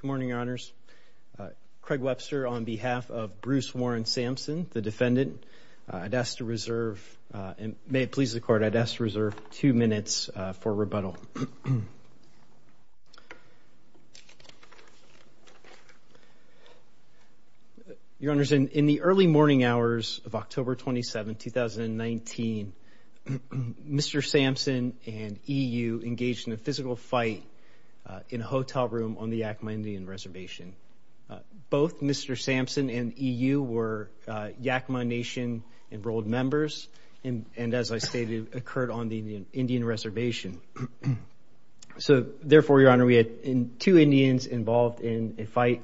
Good morning, Your Honors. Craig Webster on behalf of Bruce Warren Sampson, the defendant. I'd ask to reserve, and may it please the Court, I'd ask to reserve two minutes for rebuttal. Your Honors, in the early morning hours of October 27, 2019, Mr. Sampson and E.U. engaged in a physical fight in a hotel room on the Yakima Indian Reservation. Both Mr. Sampson and E.U. were Yakima Nation enrolled members and, as I stated, occurred on the Indian Reservation. So, therefore, Your Honor, we had two Indians involved in the fight.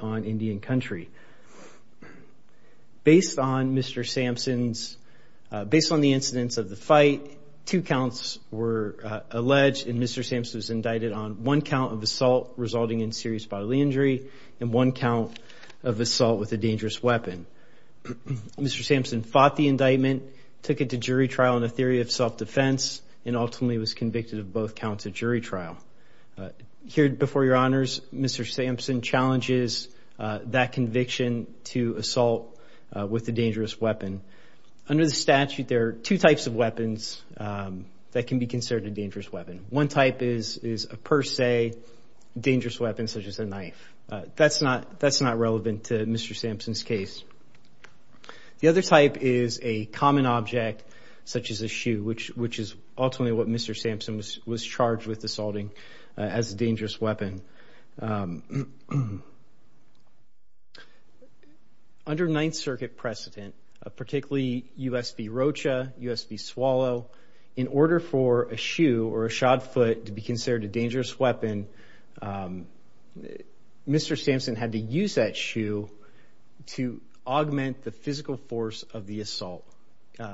Two counts were alleged, and Mr. Sampson was indicted on one count of assault resulting in serious bodily injury and one count of assault with a dangerous weapon. Mr. Sampson fought the indictment, took it to jury trial on a theory of self-defense, and ultimately was convicted of both counts of jury trial. Here before Your Honors, Mr. Sampson challenges that conviction to assault with a dangerous weapon. Under the statute, there are two types of weapons that can be considered a dangerous weapon. One type is a per se dangerous weapon, such as a knife. That's not relevant to Mr. Sampson's case. The other type is a common object, such as a shoe, which is ultimately what Mr. Sampson was charged with U.S.B. Rocha, U.S.B. Swallow. In order for a shoe or a shod foot to be considered a dangerous weapon, Mr. Sampson had to use that shoe to augment the physical force of the assault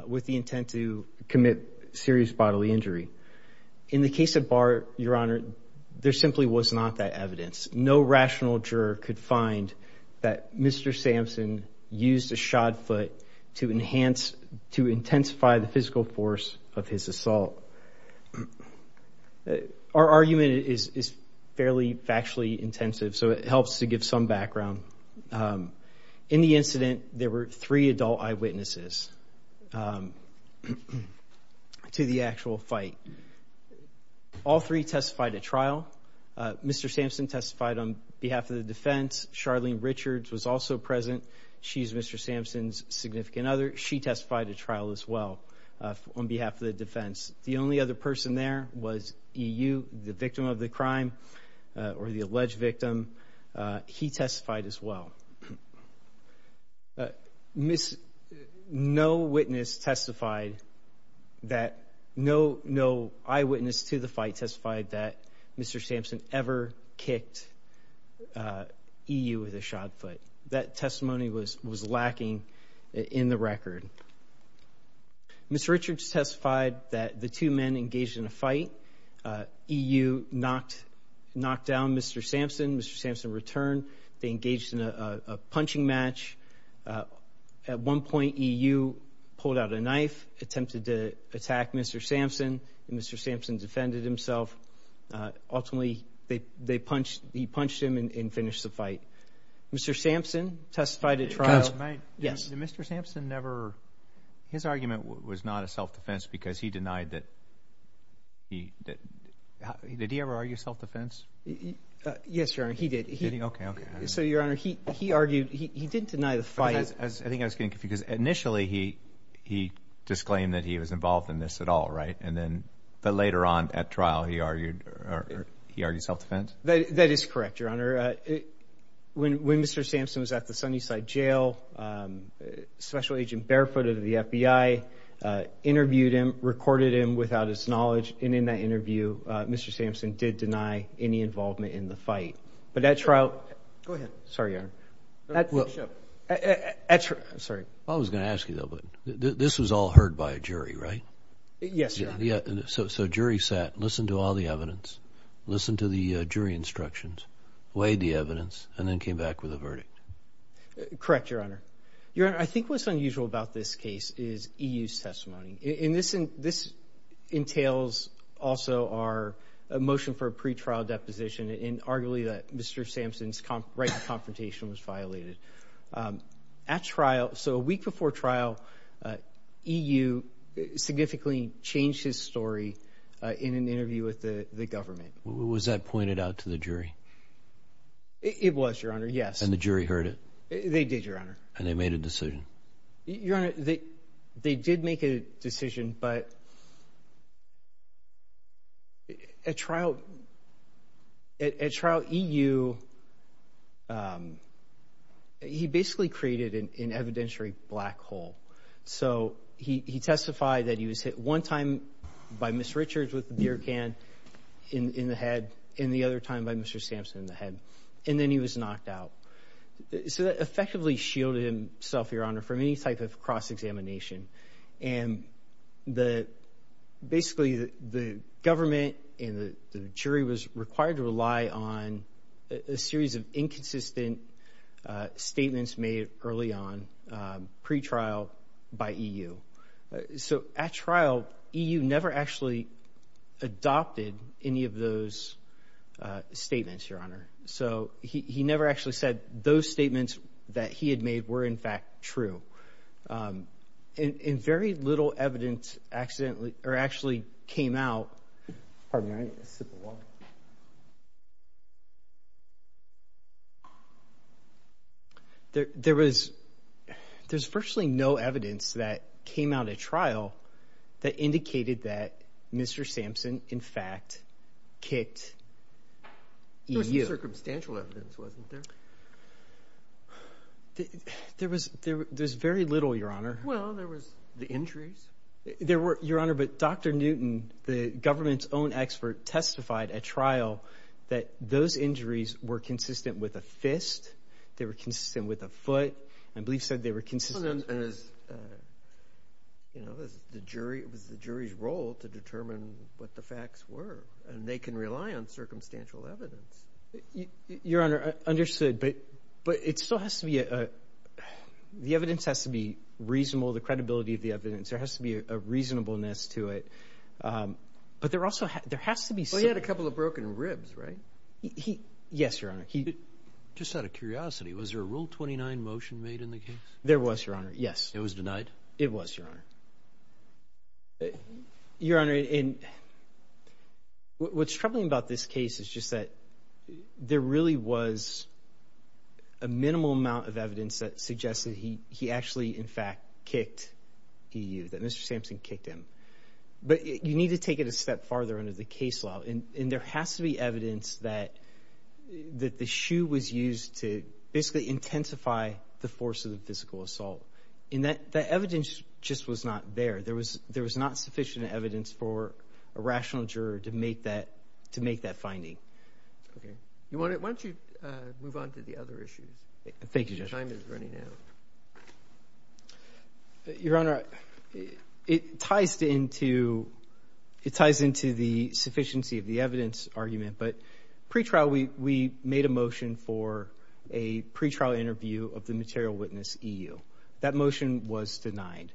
with the intent to commit serious bodily injury. In the case of Bart, Your Honor, there simply was not that evidence. No evidence to intensify the physical force of his assault. Our argument is fairly factually intensive, so it helps to give some background. In the incident, there were three adult eyewitnesses to the actual fight. All three testified at trial. Mr. Sampson testified on behalf of the defense. Charlene Richards was also present. She's Mr. Sampson's significant other. She testified at trial as well on behalf of the defense. The only other person there was E.U., the victim of the crime or the alleged victim. He testified as well. No eyewitness to the fight testified that Mr. Sampson ever kicked E.U. with a shod foot. That Mr. Richards testified that the two men engaged in a fight. E.U. knocked down Mr. Sampson. Mr. Sampson returned. They engaged in a punching match. At one point, E.U. pulled out a knife, attempted to attack Mr. Sampson. Mr. Sampson defended himself. Ultimately, he His argument was not a self-defense because he denied that he did. Did he ever argue self-defense? Yes, Your Honor, he did. Okay, okay. So, Your Honor, he argued, he did deny the fight. I think I was getting confused. Initially, he disclaimed that he was involved in this at all, right? And then, but later on at trial, he argued, he argued self-defense? That is correct, Your Honor. When Mr. Sampson was at the FBI, interviewed him, recorded him without his knowledge, and in that interview, Mr. Sampson did deny any involvement in the fight. But at trial, go ahead. Sorry, Your Honor. At trial, I'm sorry. I was going to ask you though, but this was all heard by a jury, right? Yes, Your Honor. So, so jury sat, listened to all the evidence, listened to the jury instructions, weighed the evidence, and then came back with a is EU's testimony. In this, this entails also our motion for a pretrial deposition and arguably that Mr. Sampson's right to confrontation was violated. At trial, so a week before trial, EU significantly changed his story in an interview with the government. Was that pointed out to the They did make a decision, but at trial, at trial, EU, he basically created an evidentiary black hole. So, he, he testified that he was hit one time by Ms. Richards with a beer can in, in the head, and the other time by Mr. Sampson in the head, and then he was knocked out. So that And the, basically, the government and the jury was required to rely on a series of inconsistent statements made early on pretrial by EU. So, at And, and very little evidence accidentally, or actually came out. Pardon me, I need a sip of water. There, there was, there's virtually no evidence that came out at trial that indicated that Mr. Sampson, in fact, kicked EU. There was some circumstantial evidence, wasn't there? There was, There, there's very little, Your Honor. Well, there was the injuries. There were, Your Honor, but Dr. Newton, the government's own expert, testified at trial that those injuries were consistent with a fist, they were consistent with a foot, and Belief said they were consistent. And as, you know, as the jury, it was the jury's role to determine what the facts were, and they can rely on circumstantial evidence. Your Honor, understood, but, but it still has to be a, the evidence has to be reasonable, the credibility of the evidence. There has to be a reasonableness to it. But there also, there has to be Well, he had a couple of broken ribs, right? He, yes, Your Honor. He, Just out of curiosity, was there a Rule 29 motion made in the case? There was, Your Honor, yes. It was denied? It was, Your Honor. Your Honor, in, what's troubling about this case is just that there really was a minimal amount of evidence that suggested he, he actually, in fact, kicked EU, that Mr. Sampson kicked him. But you need to take it a step farther under the case law, and there has to be And that, that evidence just was not there. There was, there was not sufficient evidence for a rational juror to make that, to make that finding. Okay. You want to, why don't you move on to the other issues? Thank you, Judge. Your time is running out. Your Honor, it ties into, it ties into the sufficiency of the evidence argument, but pretrial, we, we made a motion for a pretrial interview of the material witness, EU. That motion was denied.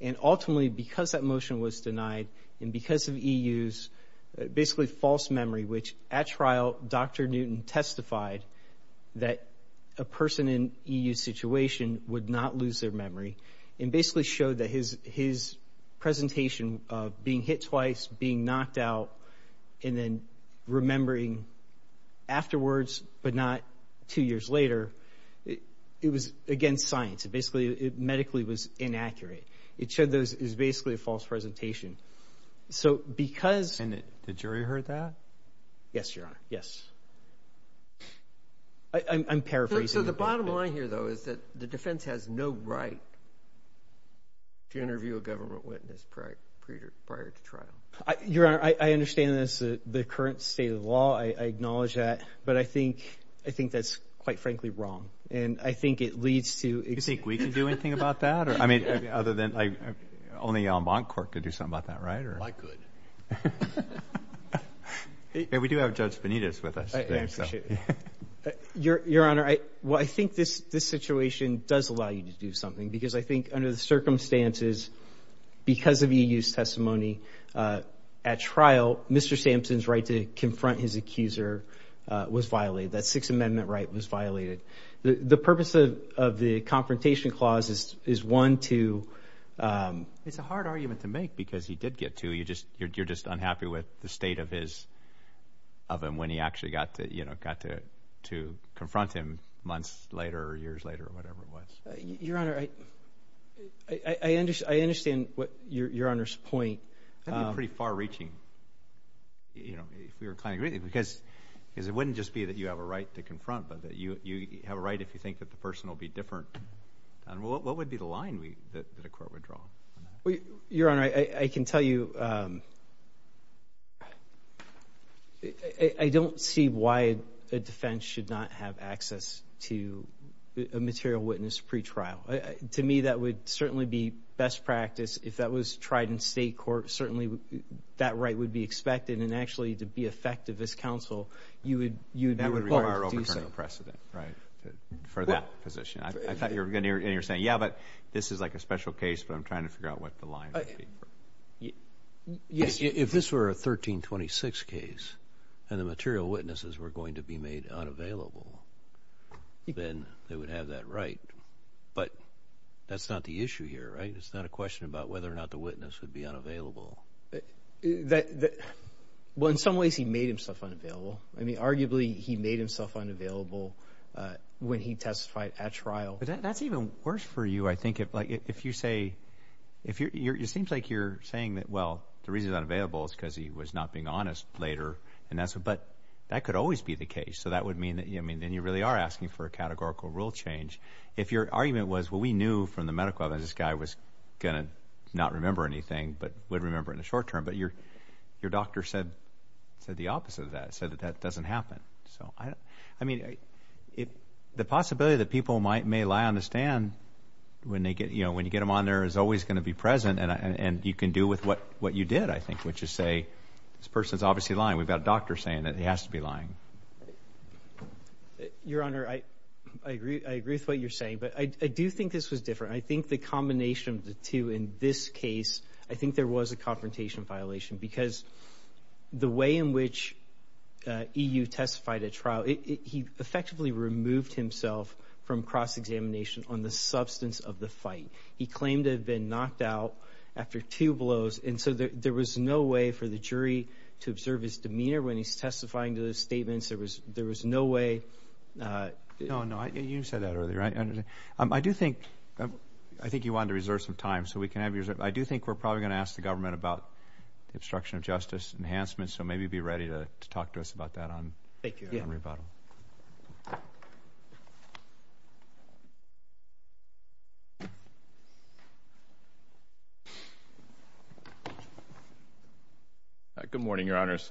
And ultimately, because that motion was denied, and because of EU's basically false memory, which at trial, Dr. Newton testified that a person in EU's situation would not lose their memory, and basically showed that his, his presentation of being hit twice, being knocked out, and then remembering afterwards, but not two years later, it, it was against science. It basically, it medically was inaccurate. It showed those, it was basically a false presentation. So, because And the jury heard that? Yes, Your Honor. Yes. I, I'm, I'm paraphrasing. So, the bottom line here, though, is that the defense has no right to interview a government witness prior, prior to trial. I, Your Honor, I, I understand that's the, the current state of the law. I, I acknowledge that. But I think, I think that's quite frankly wrong. And I think it leads to You think we can do anything about that? Or, I mean, other than, I, only Almancourt could do something about that, right? Or I could. Hey, we do have Judge Benitez with us. Your, Your Honor, I, well, I think this, this situation does allow you to do something. Because I think under the circumstances, because of EU's testimony, at trial, Mr. Sampson's right to confront his accuser was violated. That Sixth Amendment right was violated. The, the purpose of, of the confrontation clause is, is one to It's a hard argument to make because he did get to. You just, you're, you're just unhappy with the state of his, of him when he actually got to, you know, got to, to confront him months later, or years later, or whatever it was. Your Honor, I, I, I understand, I understand what Your, Your Honor's point. That'd be pretty far reaching. You know, if we were kind of, because, because it wouldn't just be that you have a right to confront, but that you, you have a right if you think that the person will be different. And what, what would be the line we, that, that a court would draw on that? Well, Your Honor, I, I can tell you, I, I don't see why a defense should not have access to a material witness pretrial. To me, that would certainly be best practice. If that was tried in state court, certainly that right would be expected. And actually, to be effective as counsel, you would, you would require an overturning precedent, right, for that position. I thought you were going to, and you're saying, yeah, but this is like a special case, but I'm trying to figure out what the line would be. Yes, if this were a 1326 case, and the material witnesses were going to be made unavailable, then they would have that right. But that's not the issue here, right? It's not a question about whether or not the witness would be unavailable. That, that, well, in some ways, he made himself unavailable. I mean, arguably, he made himself unavailable when he testified at trial. But that, that's even worse for you, I think, if, like, if you say, if you're, it seems like you're saying that, well, the reason he's unavailable is because he was not being honest later, and that's what, but that could always be the case. So that would mean that, I mean, then you really are asking for a categorical rule change. If your your doctor said, said the opposite of that, said that that doesn't happen. So I, I mean, if the possibility that people might, may lie on the stand when they get, you know, when you get them on there is always going to be present, and, and, and you can do with what, what you did, I think, which is say, this person's obviously lying. We've got a doctor saying that he has to be lying. Your Honor, I, I agree, I agree with what you're saying, but I, I do think this was different. I think the combination of the two in this case, I think there was a confrontation violation because the way in which EU testified at trial, it, it, he effectively removed himself from cross-examination on the substance of the evidence. There was, there was no way. No, no, I, you said that earlier. I, I do think, I think you wanted to reserve some time, so we can have your, I do think we're probably going to ask the government about the obstruction of justice enhancements, so maybe be ready to, to talk to us about that on. Thank you. Good morning, Your Honors.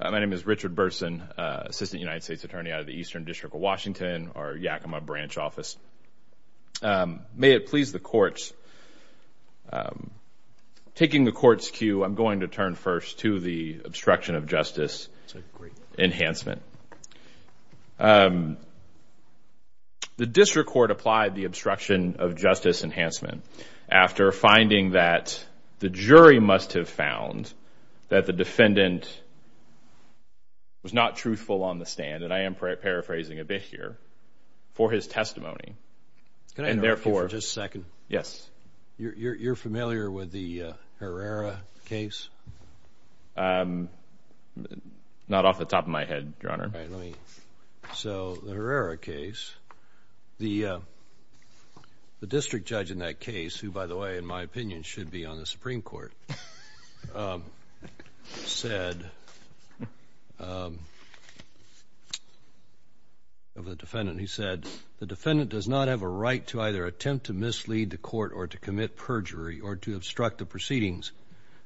My name is Richard Burson, Assistant United States Attorney out of the Eastern District of Washington, our Yakima branch office. May it please the courts, taking the court's cue, I'm going to turn first to the obstruction of justice enhancement. The district court applied the obstruction of justice enhancement after finding that the jury must have found that the defendant was not truthful on the stand, and I am paraphrasing a bit here, for his testimony, and therefore. Just a second. Yes. You're, you're, you're familiar with the Herrera case? Not off the top of my head, Your Honor. All right, let me, so the Herrera case, the, the defendant does not have a right to either attempt to mislead the court, or to commit perjury, or to obstruct the proceedings.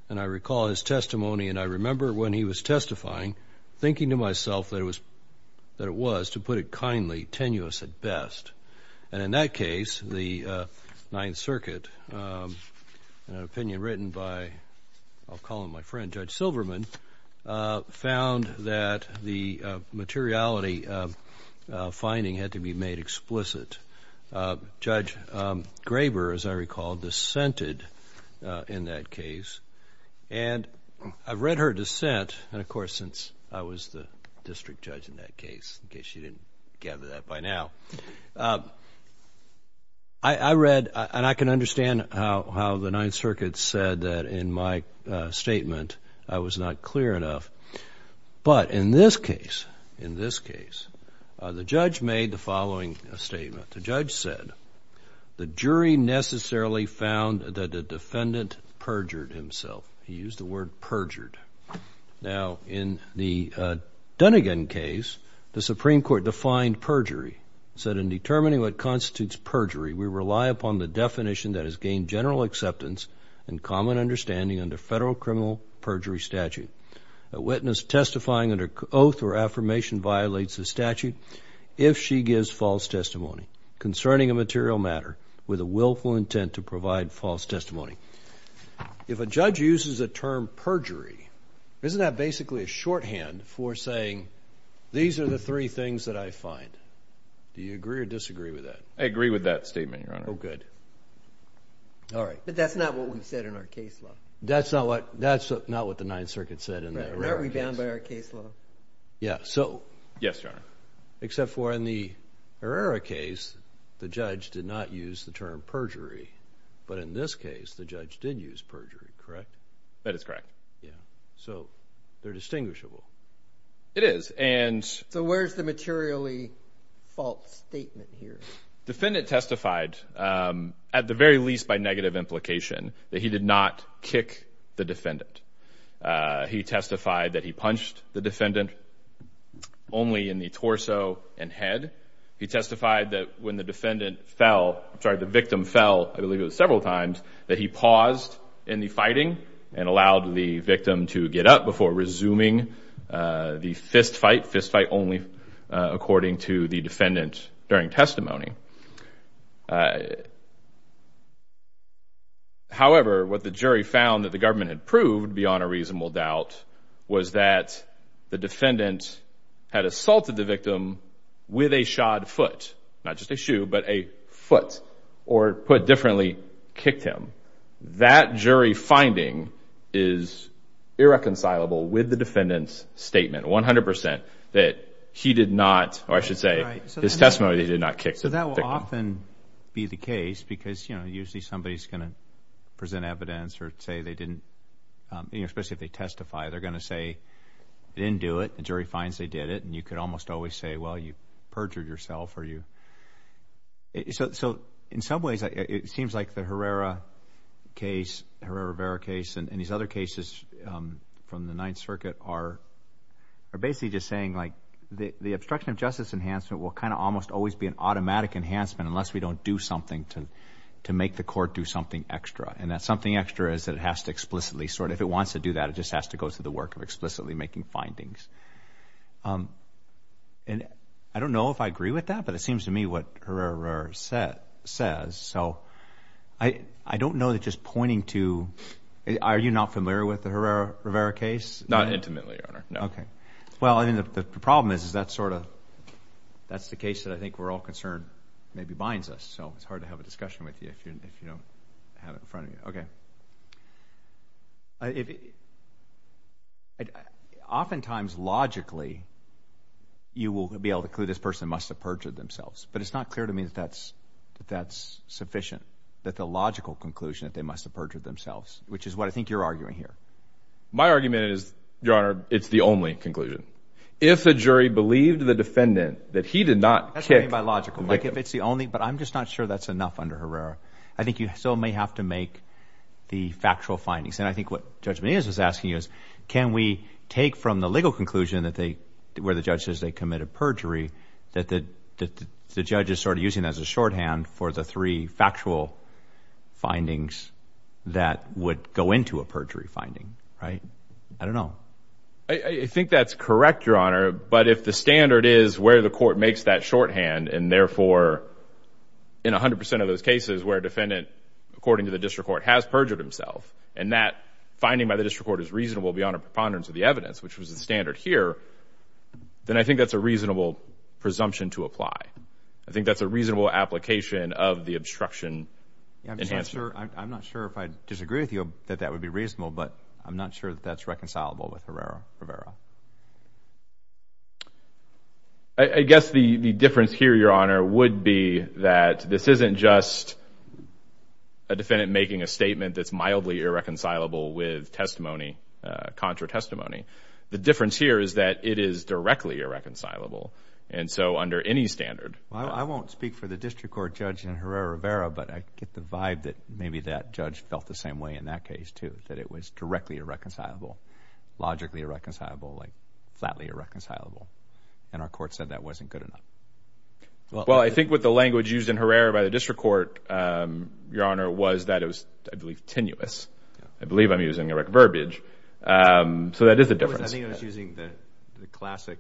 And I recall his testimony, and I remember when he was testifying, thinking to myself that it was, that it was, to put it kindly, tenuous at best. And in that case, the Ninth Circuit had a very explicit, Judge Graber, as I recall, dissented in that case. And I've read her dissent, and of course, since I was the district judge in that case, in case you didn't gather that by now. I, I read, and I can understand how, how the Ninth Circuit said that in my statement, I was not clear enough. But in this case, in this case, the judge made the following statement. The judge said, the jury necessarily found that the defendant perjured himself. He used the word perjured. Now, in the Dunnegan case, the Supreme Court defined perjury. Said, in determining what constitutes perjury, we rely upon the definition that has gained general acceptance and common understanding under federal criminal perjury statute. A witness testifying under oath or affirmation violates the statute if she gives false testimony. Concerning a material matter with a willful intent to provide false testimony. If a judge uses the term perjury, isn't that basically a shorthand for saying, these are the three things that I find. Do you agree or disagree with that? I agree with that statement, Your Honor. Oh, good. All right. But that's not what we said in our case law. That's not what, that's not what the Ninth Circuit said in the Herrera case. We're not rebound by our case law. Yeah, so. Yes, Your Honor. Except for in the Herrera case, the judge did not use the term perjury. But in this case, the judge did use perjury, correct? That is correct. Yeah. So, they're distinguishable. It is, and. So, where's the materially false statement here? Defendant testified at the very least by negative implication that he did not kick the defendant. He testified that he punched the defendant only in the torso and head. He testified that when the defendant fell, sorry, the victim fell, I believe it was several times, that he paused in the fighting and allowed the victim to get up before resuming the fist fight. Fist fight only, according to the defendant during testimony. However, what the jury found that the government had proved, beyond a reasonable doubt, was that the defendant had assaulted the victim with a shod foot. Not just a shoe, but a foot, or put differently, kicked him. That jury finding is irreconcilable with the defendant's statement, 100%, that he did not, or I should say, his testimony that he did not kick the victim. So, that will often be the case because, you know, usually somebody's going to present evidence or say they didn't, you know, especially if they testify, they're going to say they didn't do it. The jury finds they did it, and you could almost always say, well, you perjured yourself, or you. So, in some ways, it seems like the Herrera case, Herrera-Rivera case, and these other cases from the Ninth Circuit are basically just saying, like, the obstruction of justice enhancement will kind of almost always be an automatic enhancement unless we don't do something to make the court do something extra. And that something extra is that it has to explicitly, sort of, if it wants to do that, it just has to go through the work of explicitly making findings. And I don't know if I agree with that, but it seems to me what Herrera-Rivera says, so I don't know that just pointing to, are you not familiar with the Herrera-Rivera case? Not intimately, Your Honor, no. Okay. Well, I mean, the problem is that's sort of, that's the case that I think we're all concerned maybe binds us, so it's hard to have a discussion with you if you don't have it in front of you. Okay. Oftentimes, logically, you will be able to conclude this person must have perjured themselves, but it's not clear to me that that's sufficient, that the logical conclusion that they must have perjured themselves, which is what I think you're arguing here. My argument is, Your Honor, it's the only conclusion. If a jury believed the defendant that he did not kick – Like if it's the only, but I'm just not sure that's enough under Herrera. I think you still may have to make the factual findings, and I think what Judge Menendez is asking is, can we take from the legal conclusion that they, where the judge says they committed perjury, that the judge is sort of using that as a shorthand for the three factual findings that would go into a perjury finding, right? I don't know. I think that's correct, Your Honor, but if the standard is where the court makes that shorthand, and therefore in 100% of those cases where a defendant, according to the district court, has perjured himself, and that finding by the district court is reasonable beyond a preponderance of the evidence, which was the standard here, then I think that's a reasonable presumption to apply. I think that's a reasonable application of the obstruction enhancement. I'm not sure if I disagree with you that that would be reasonable, but I'm not sure that that's reconcilable with Herrera-Rivera. I guess the difference here, Your Honor, would be that this isn't just a defendant making a statement that's mildly irreconcilable with testimony, contra testimony. The difference here is that it is directly irreconcilable, and so under any standard – Well, I won't speak for the district court judge in Herrera-Rivera, but I get the vibe that maybe that judge felt the same way in that case, too, that it was directly irreconcilable, logically irreconcilable, like flatly irreconcilable, and our court said that wasn't good enough. Well, I think what the language used in Herrera by the district court, Your Honor, was that it was, I believe, tenuous. I believe I'm using irreverberage, so that is a difference. I think it was using the classic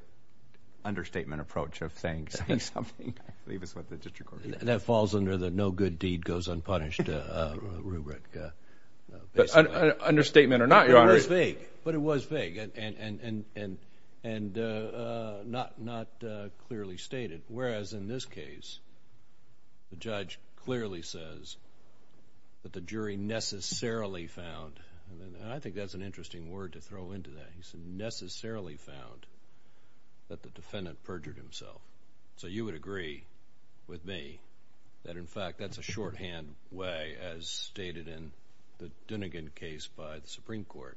understatement approach of saying something. I believe that's what the district court judge said. That falls under the no good deed goes unpunished rubric. An understatement or not, Your Honor. It was vague, but it was vague and not clearly stated, whereas in this case, the judge clearly says that the jury necessarily found – and I think that's an interesting word to throw into that – necessarily found that the defendant perjured himself. So you would agree with me that, in fact, that's a shorthand way, as stated in the Dunnigan case by the Supreme Court,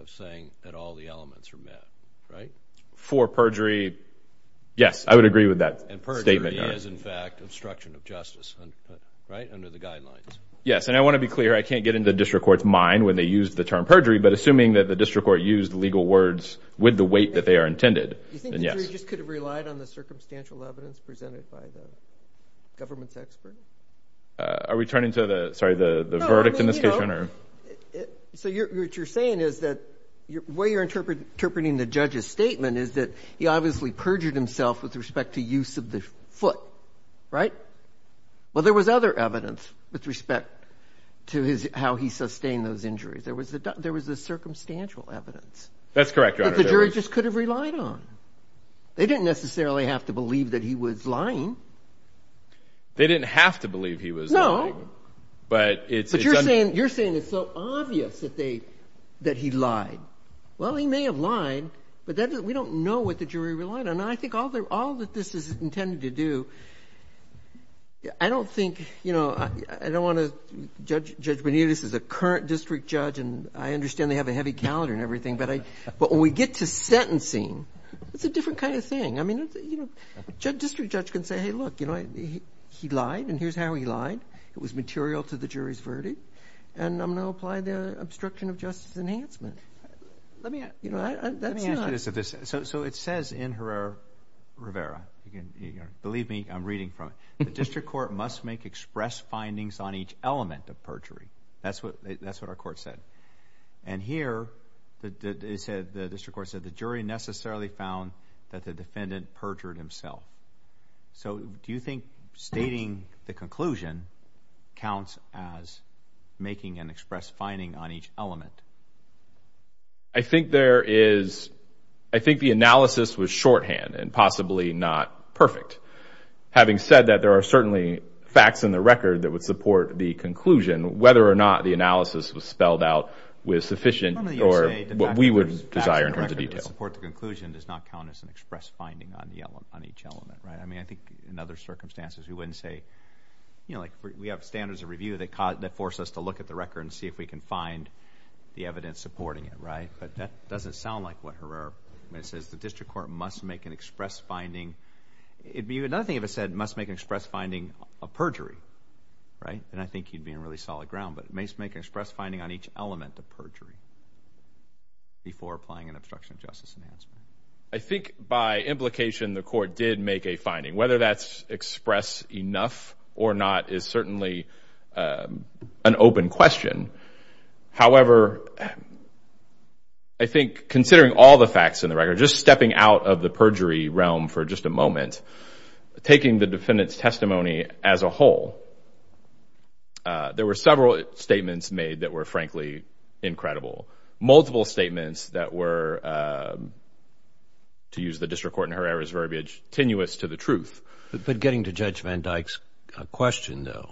of saying that all the elements are met, right? For perjury, yes, I would agree with that statement, Your Honor. And perjury is, in fact, obstruction of justice, right, under the guidelines. Yes, and I want to be clear. I can't get into the district court's mind when they used the term perjury, but assuming that the district court used legal words with the weight that they are intended, then yes. Do you think the jury just could have relied on the circumstantial evidence presented by the government's expert? Are we turning to the – sorry, the verdict in this case, Your Honor? No, I mean, you know, so what you're saying is that the way you're interpreting the judge's statement is that he obviously perjured himself with respect to use of the foot, right? Well, there was other evidence with respect to how he sustained those injuries. There was the circumstantial evidence. That's correct, Your Honor. That the jury just could have relied on. They didn't necessarily have to believe that he was lying. They didn't have to believe he was lying. No. But it's – But you're saying it's so obvious that he lied. Well, he may have lied, but we don't know what the jury relied on. And I think all that this is intended to do, I don't think, you know, I don't want to judge Benitez as a current district judge, and I understand they have a heavy calendar and everything, but when we get to sentencing, it's a different kind of thing. I mean, you know, a district judge can say, hey, look, you know, he lied, and here's how he lied. It was material to the jury's verdict, and I'm going to apply the obstruction of justice enhancement. Let me ask you this. So it says in Herrera-Rivera, believe me, I'm reading from it, the district court must make express findings on each element of perjury. That's what our court said. And here the district court said the jury necessarily found that the defendant perjured himself. So do you think stating the conclusion counts as making an express finding on each element? I think there is, I think the analysis was shorthand and possibly not perfect. Having said that, there are certainly facts in the record that would support the conclusion, whether or not the analysis was spelled out with sufficient or what we would desire in terms of detail. The fact that it would support the conclusion does not count as an express finding on each element, right? I mean, I think in other circumstances we wouldn't say, you know, like we have standards of review that force us to look at the record and see if we can find the evidence supporting it, right? But that doesn't sound like what Herrera-Rivera says. The district court must make an express finding. Another thing it said, must make an express finding of perjury, right? And I think you'd be on really solid ground, but make an express finding on each element of perjury before applying an obstruction of justice enhancement. I think by implication the court did make a finding. Whether that's expressed enough or not is certainly an open question. However, I think considering all the facts in the record, just stepping out of the perjury realm for just a moment, taking the defendant's testimony as a whole, there were several statements made that were frankly incredible. Multiple statements that were, to use the district court and Herrera's verbiage, tenuous to the truth. But getting to Judge Van Dyke's question though,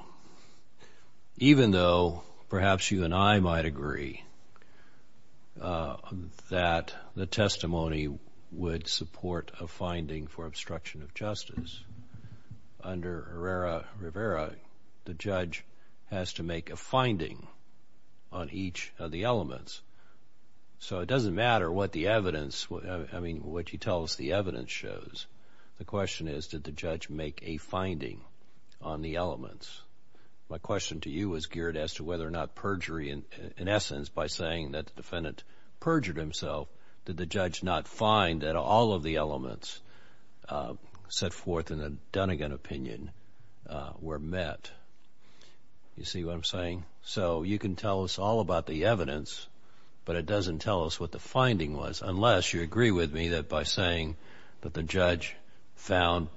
even though perhaps you and I might agree that the testimony would support a finding for obstruction of justice, under Herrera-Rivera the judge has to make a finding on each of the elements. So it doesn't matter what the evidence, I mean, what you tell us the evidence shows. The question is, did the judge make a finding on the elements? My question to you is geared as to whether or not perjury, in essence, by saying that the defendant perjured himself, did the judge not find that all of the elements set forth in the Dunnegan opinion were met? You see what I'm saying? So you can tell us all about the evidence, but it doesn't tell us what the finding was, unless you agree with me that by saying that the judge found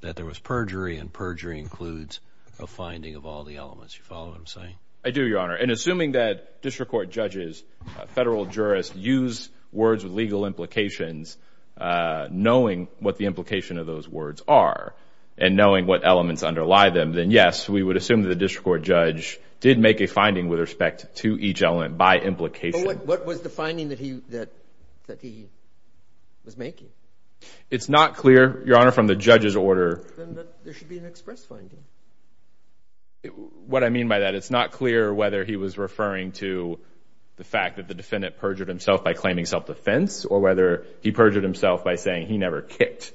that there was perjury, and perjury includes a finding of all the elements. You follow what I'm saying? I do, Your Honor. And assuming that district court judges, federal jurists, use words with legal implications, knowing what the implication of those words are, and knowing what elements underlie them, then yes, we would assume that the district court judge did make a finding with respect to each element by implication. But what was the finding that he was making? It's not clear, Your Honor, from the judge's order. Then there should be an express finding. What I mean by that, it's not clear whether he was referring to the fact that the defendant perjured himself by claiming self-defense or whether he perjured himself by saying he never kicked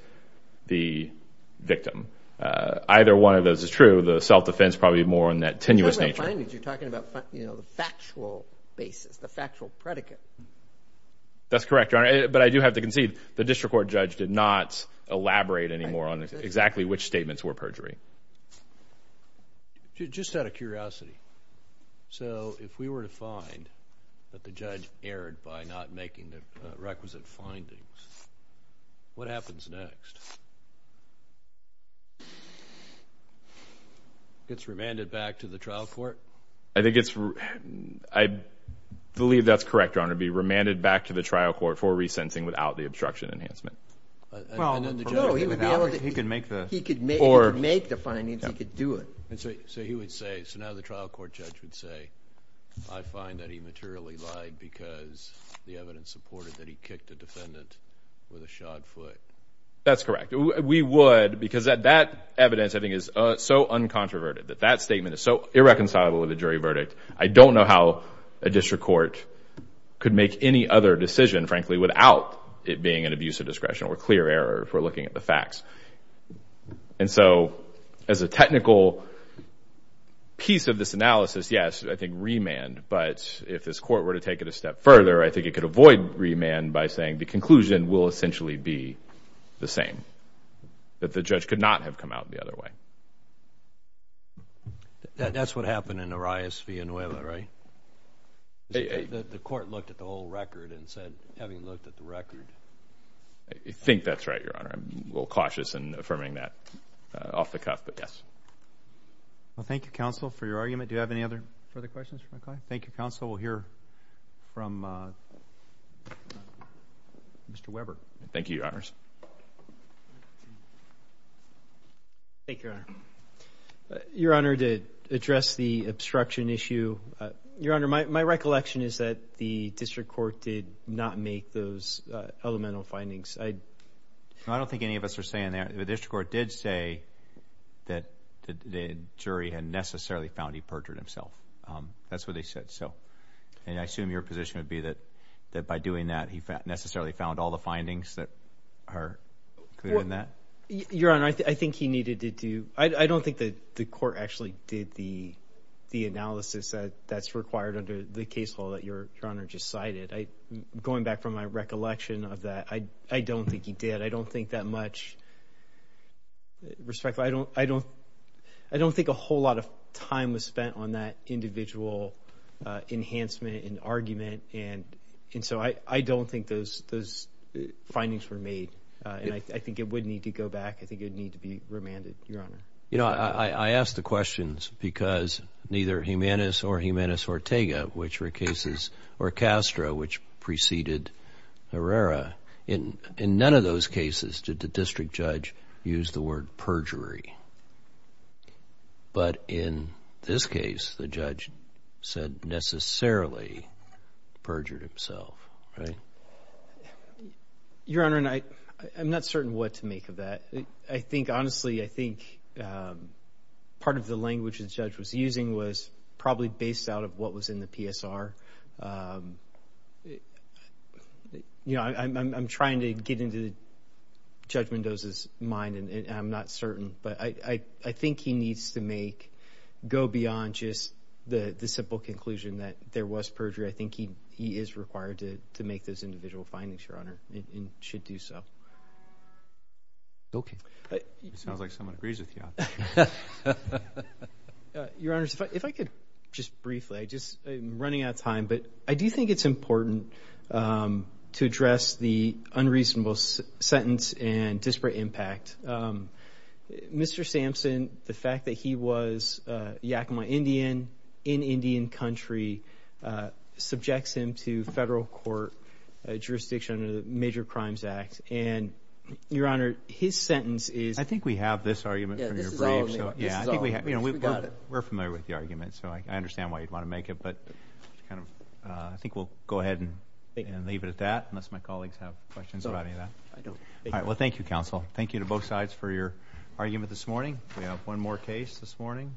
the victim. Either one of those is true. The self-defense probably more in that tenuous nature. You're talking about the factual basis, the factual predicate. That's correct, Your Honor. But I do have to concede the district court judge did not elaborate anymore on exactly which statements were perjury. Just out of curiosity, so if we were to find that the judge erred by not making the requisite findings, what happens next? Gets remanded back to the trial court? I believe that's correct, Your Honor, be remanded back to the trial court for resensing without the obstruction enhancement. No, he would be able to. He could make the findings. He could do it. So he would say, so now the trial court judge would say, I find that he materially lied because the evidence supported that he kicked a defendant with a shod foot. That's correct. We would because that evidence, I think, is so uncontroverted, that that statement is so irreconcilable with the jury verdict. I don't know how a district court could make any other decision, frankly, without it being an abuse of discretion or clear error if we're looking at the facts. And so as a technical piece of this analysis, yes, I think remand. But if this court were to take it a step further, I think it could avoid remand by saying the conclusion will essentially be the same, that the judge could not have come out the other way. That's what happened in Arias-Villanueva, right? The court looked at the whole record and said, having looked at the record. I think that's right, Your Honor. I'm a little cautious in affirming that off the cuff, but yes. Well, thank you, counsel, for your argument. Do you have any other further questions? Thank you, counsel. We'll hear from Mr. Weber. Thank you, Your Honors. Thank you, Your Honor. Your Honor, to address the obstruction issue, Your Honor, my recollection is that the district court did not make those elemental findings. I don't think any of us are saying that. The district court did say that the jury had necessarily found he perjured himself. That's what they said. And I assume your position would be that by doing that, he necessarily found all the findings that are clear in that? Your Honor, I think he needed to do – I don't think the court actually did the analysis that's required under the case law that Your Honor just cited. Going back from my recollection of that, I don't think he did. I don't think that much – I don't think a whole lot of time was spent on that individual enhancement and argument. And so I don't think those findings were made. And I think it would need to go back. I think it would need to be remanded, Your Honor. You know, I ask the questions because neither Jimenez or Jimenez Ortega, which were cases, or Castro, which preceded Herrera, in none of those cases did the district judge use the word perjury. But in this case, the judge said necessarily perjured himself, right? Your Honor, I'm not certain what to make of that. I think, honestly, I think part of the language the judge was using was probably based out of what was in the PSR. You know, I'm trying to get into Judge Mendoza's mind, and I'm not certain. But I think he needs to make – go beyond just the simple conclusion that there was perjury. I think he is required to make those individual findings, Your Honor, and should do so. Okay. It sounds like someone agrees with you on that. Your Honors, if I could just briefly, I'm running out of time, but I do think it's important to address the unreasonable sentence and disparate impact. Mr. Sampson, the fact that he was a Yakama Indian in Indian country, subjects him to federal court jurisdiction under the Major Crimes Act. And, Your Honor, his sentence is— I think we have this argument from your brief. Yeah, this is all of it. We're familiar with the argument, so I understand why you'd want to make it. But I think we'll go ahead and leave it at that, unless my colleagues have questions about any of that. Well, thank you, Counsel. Thank you to both sides for your argument this morning. We have one more case this morning.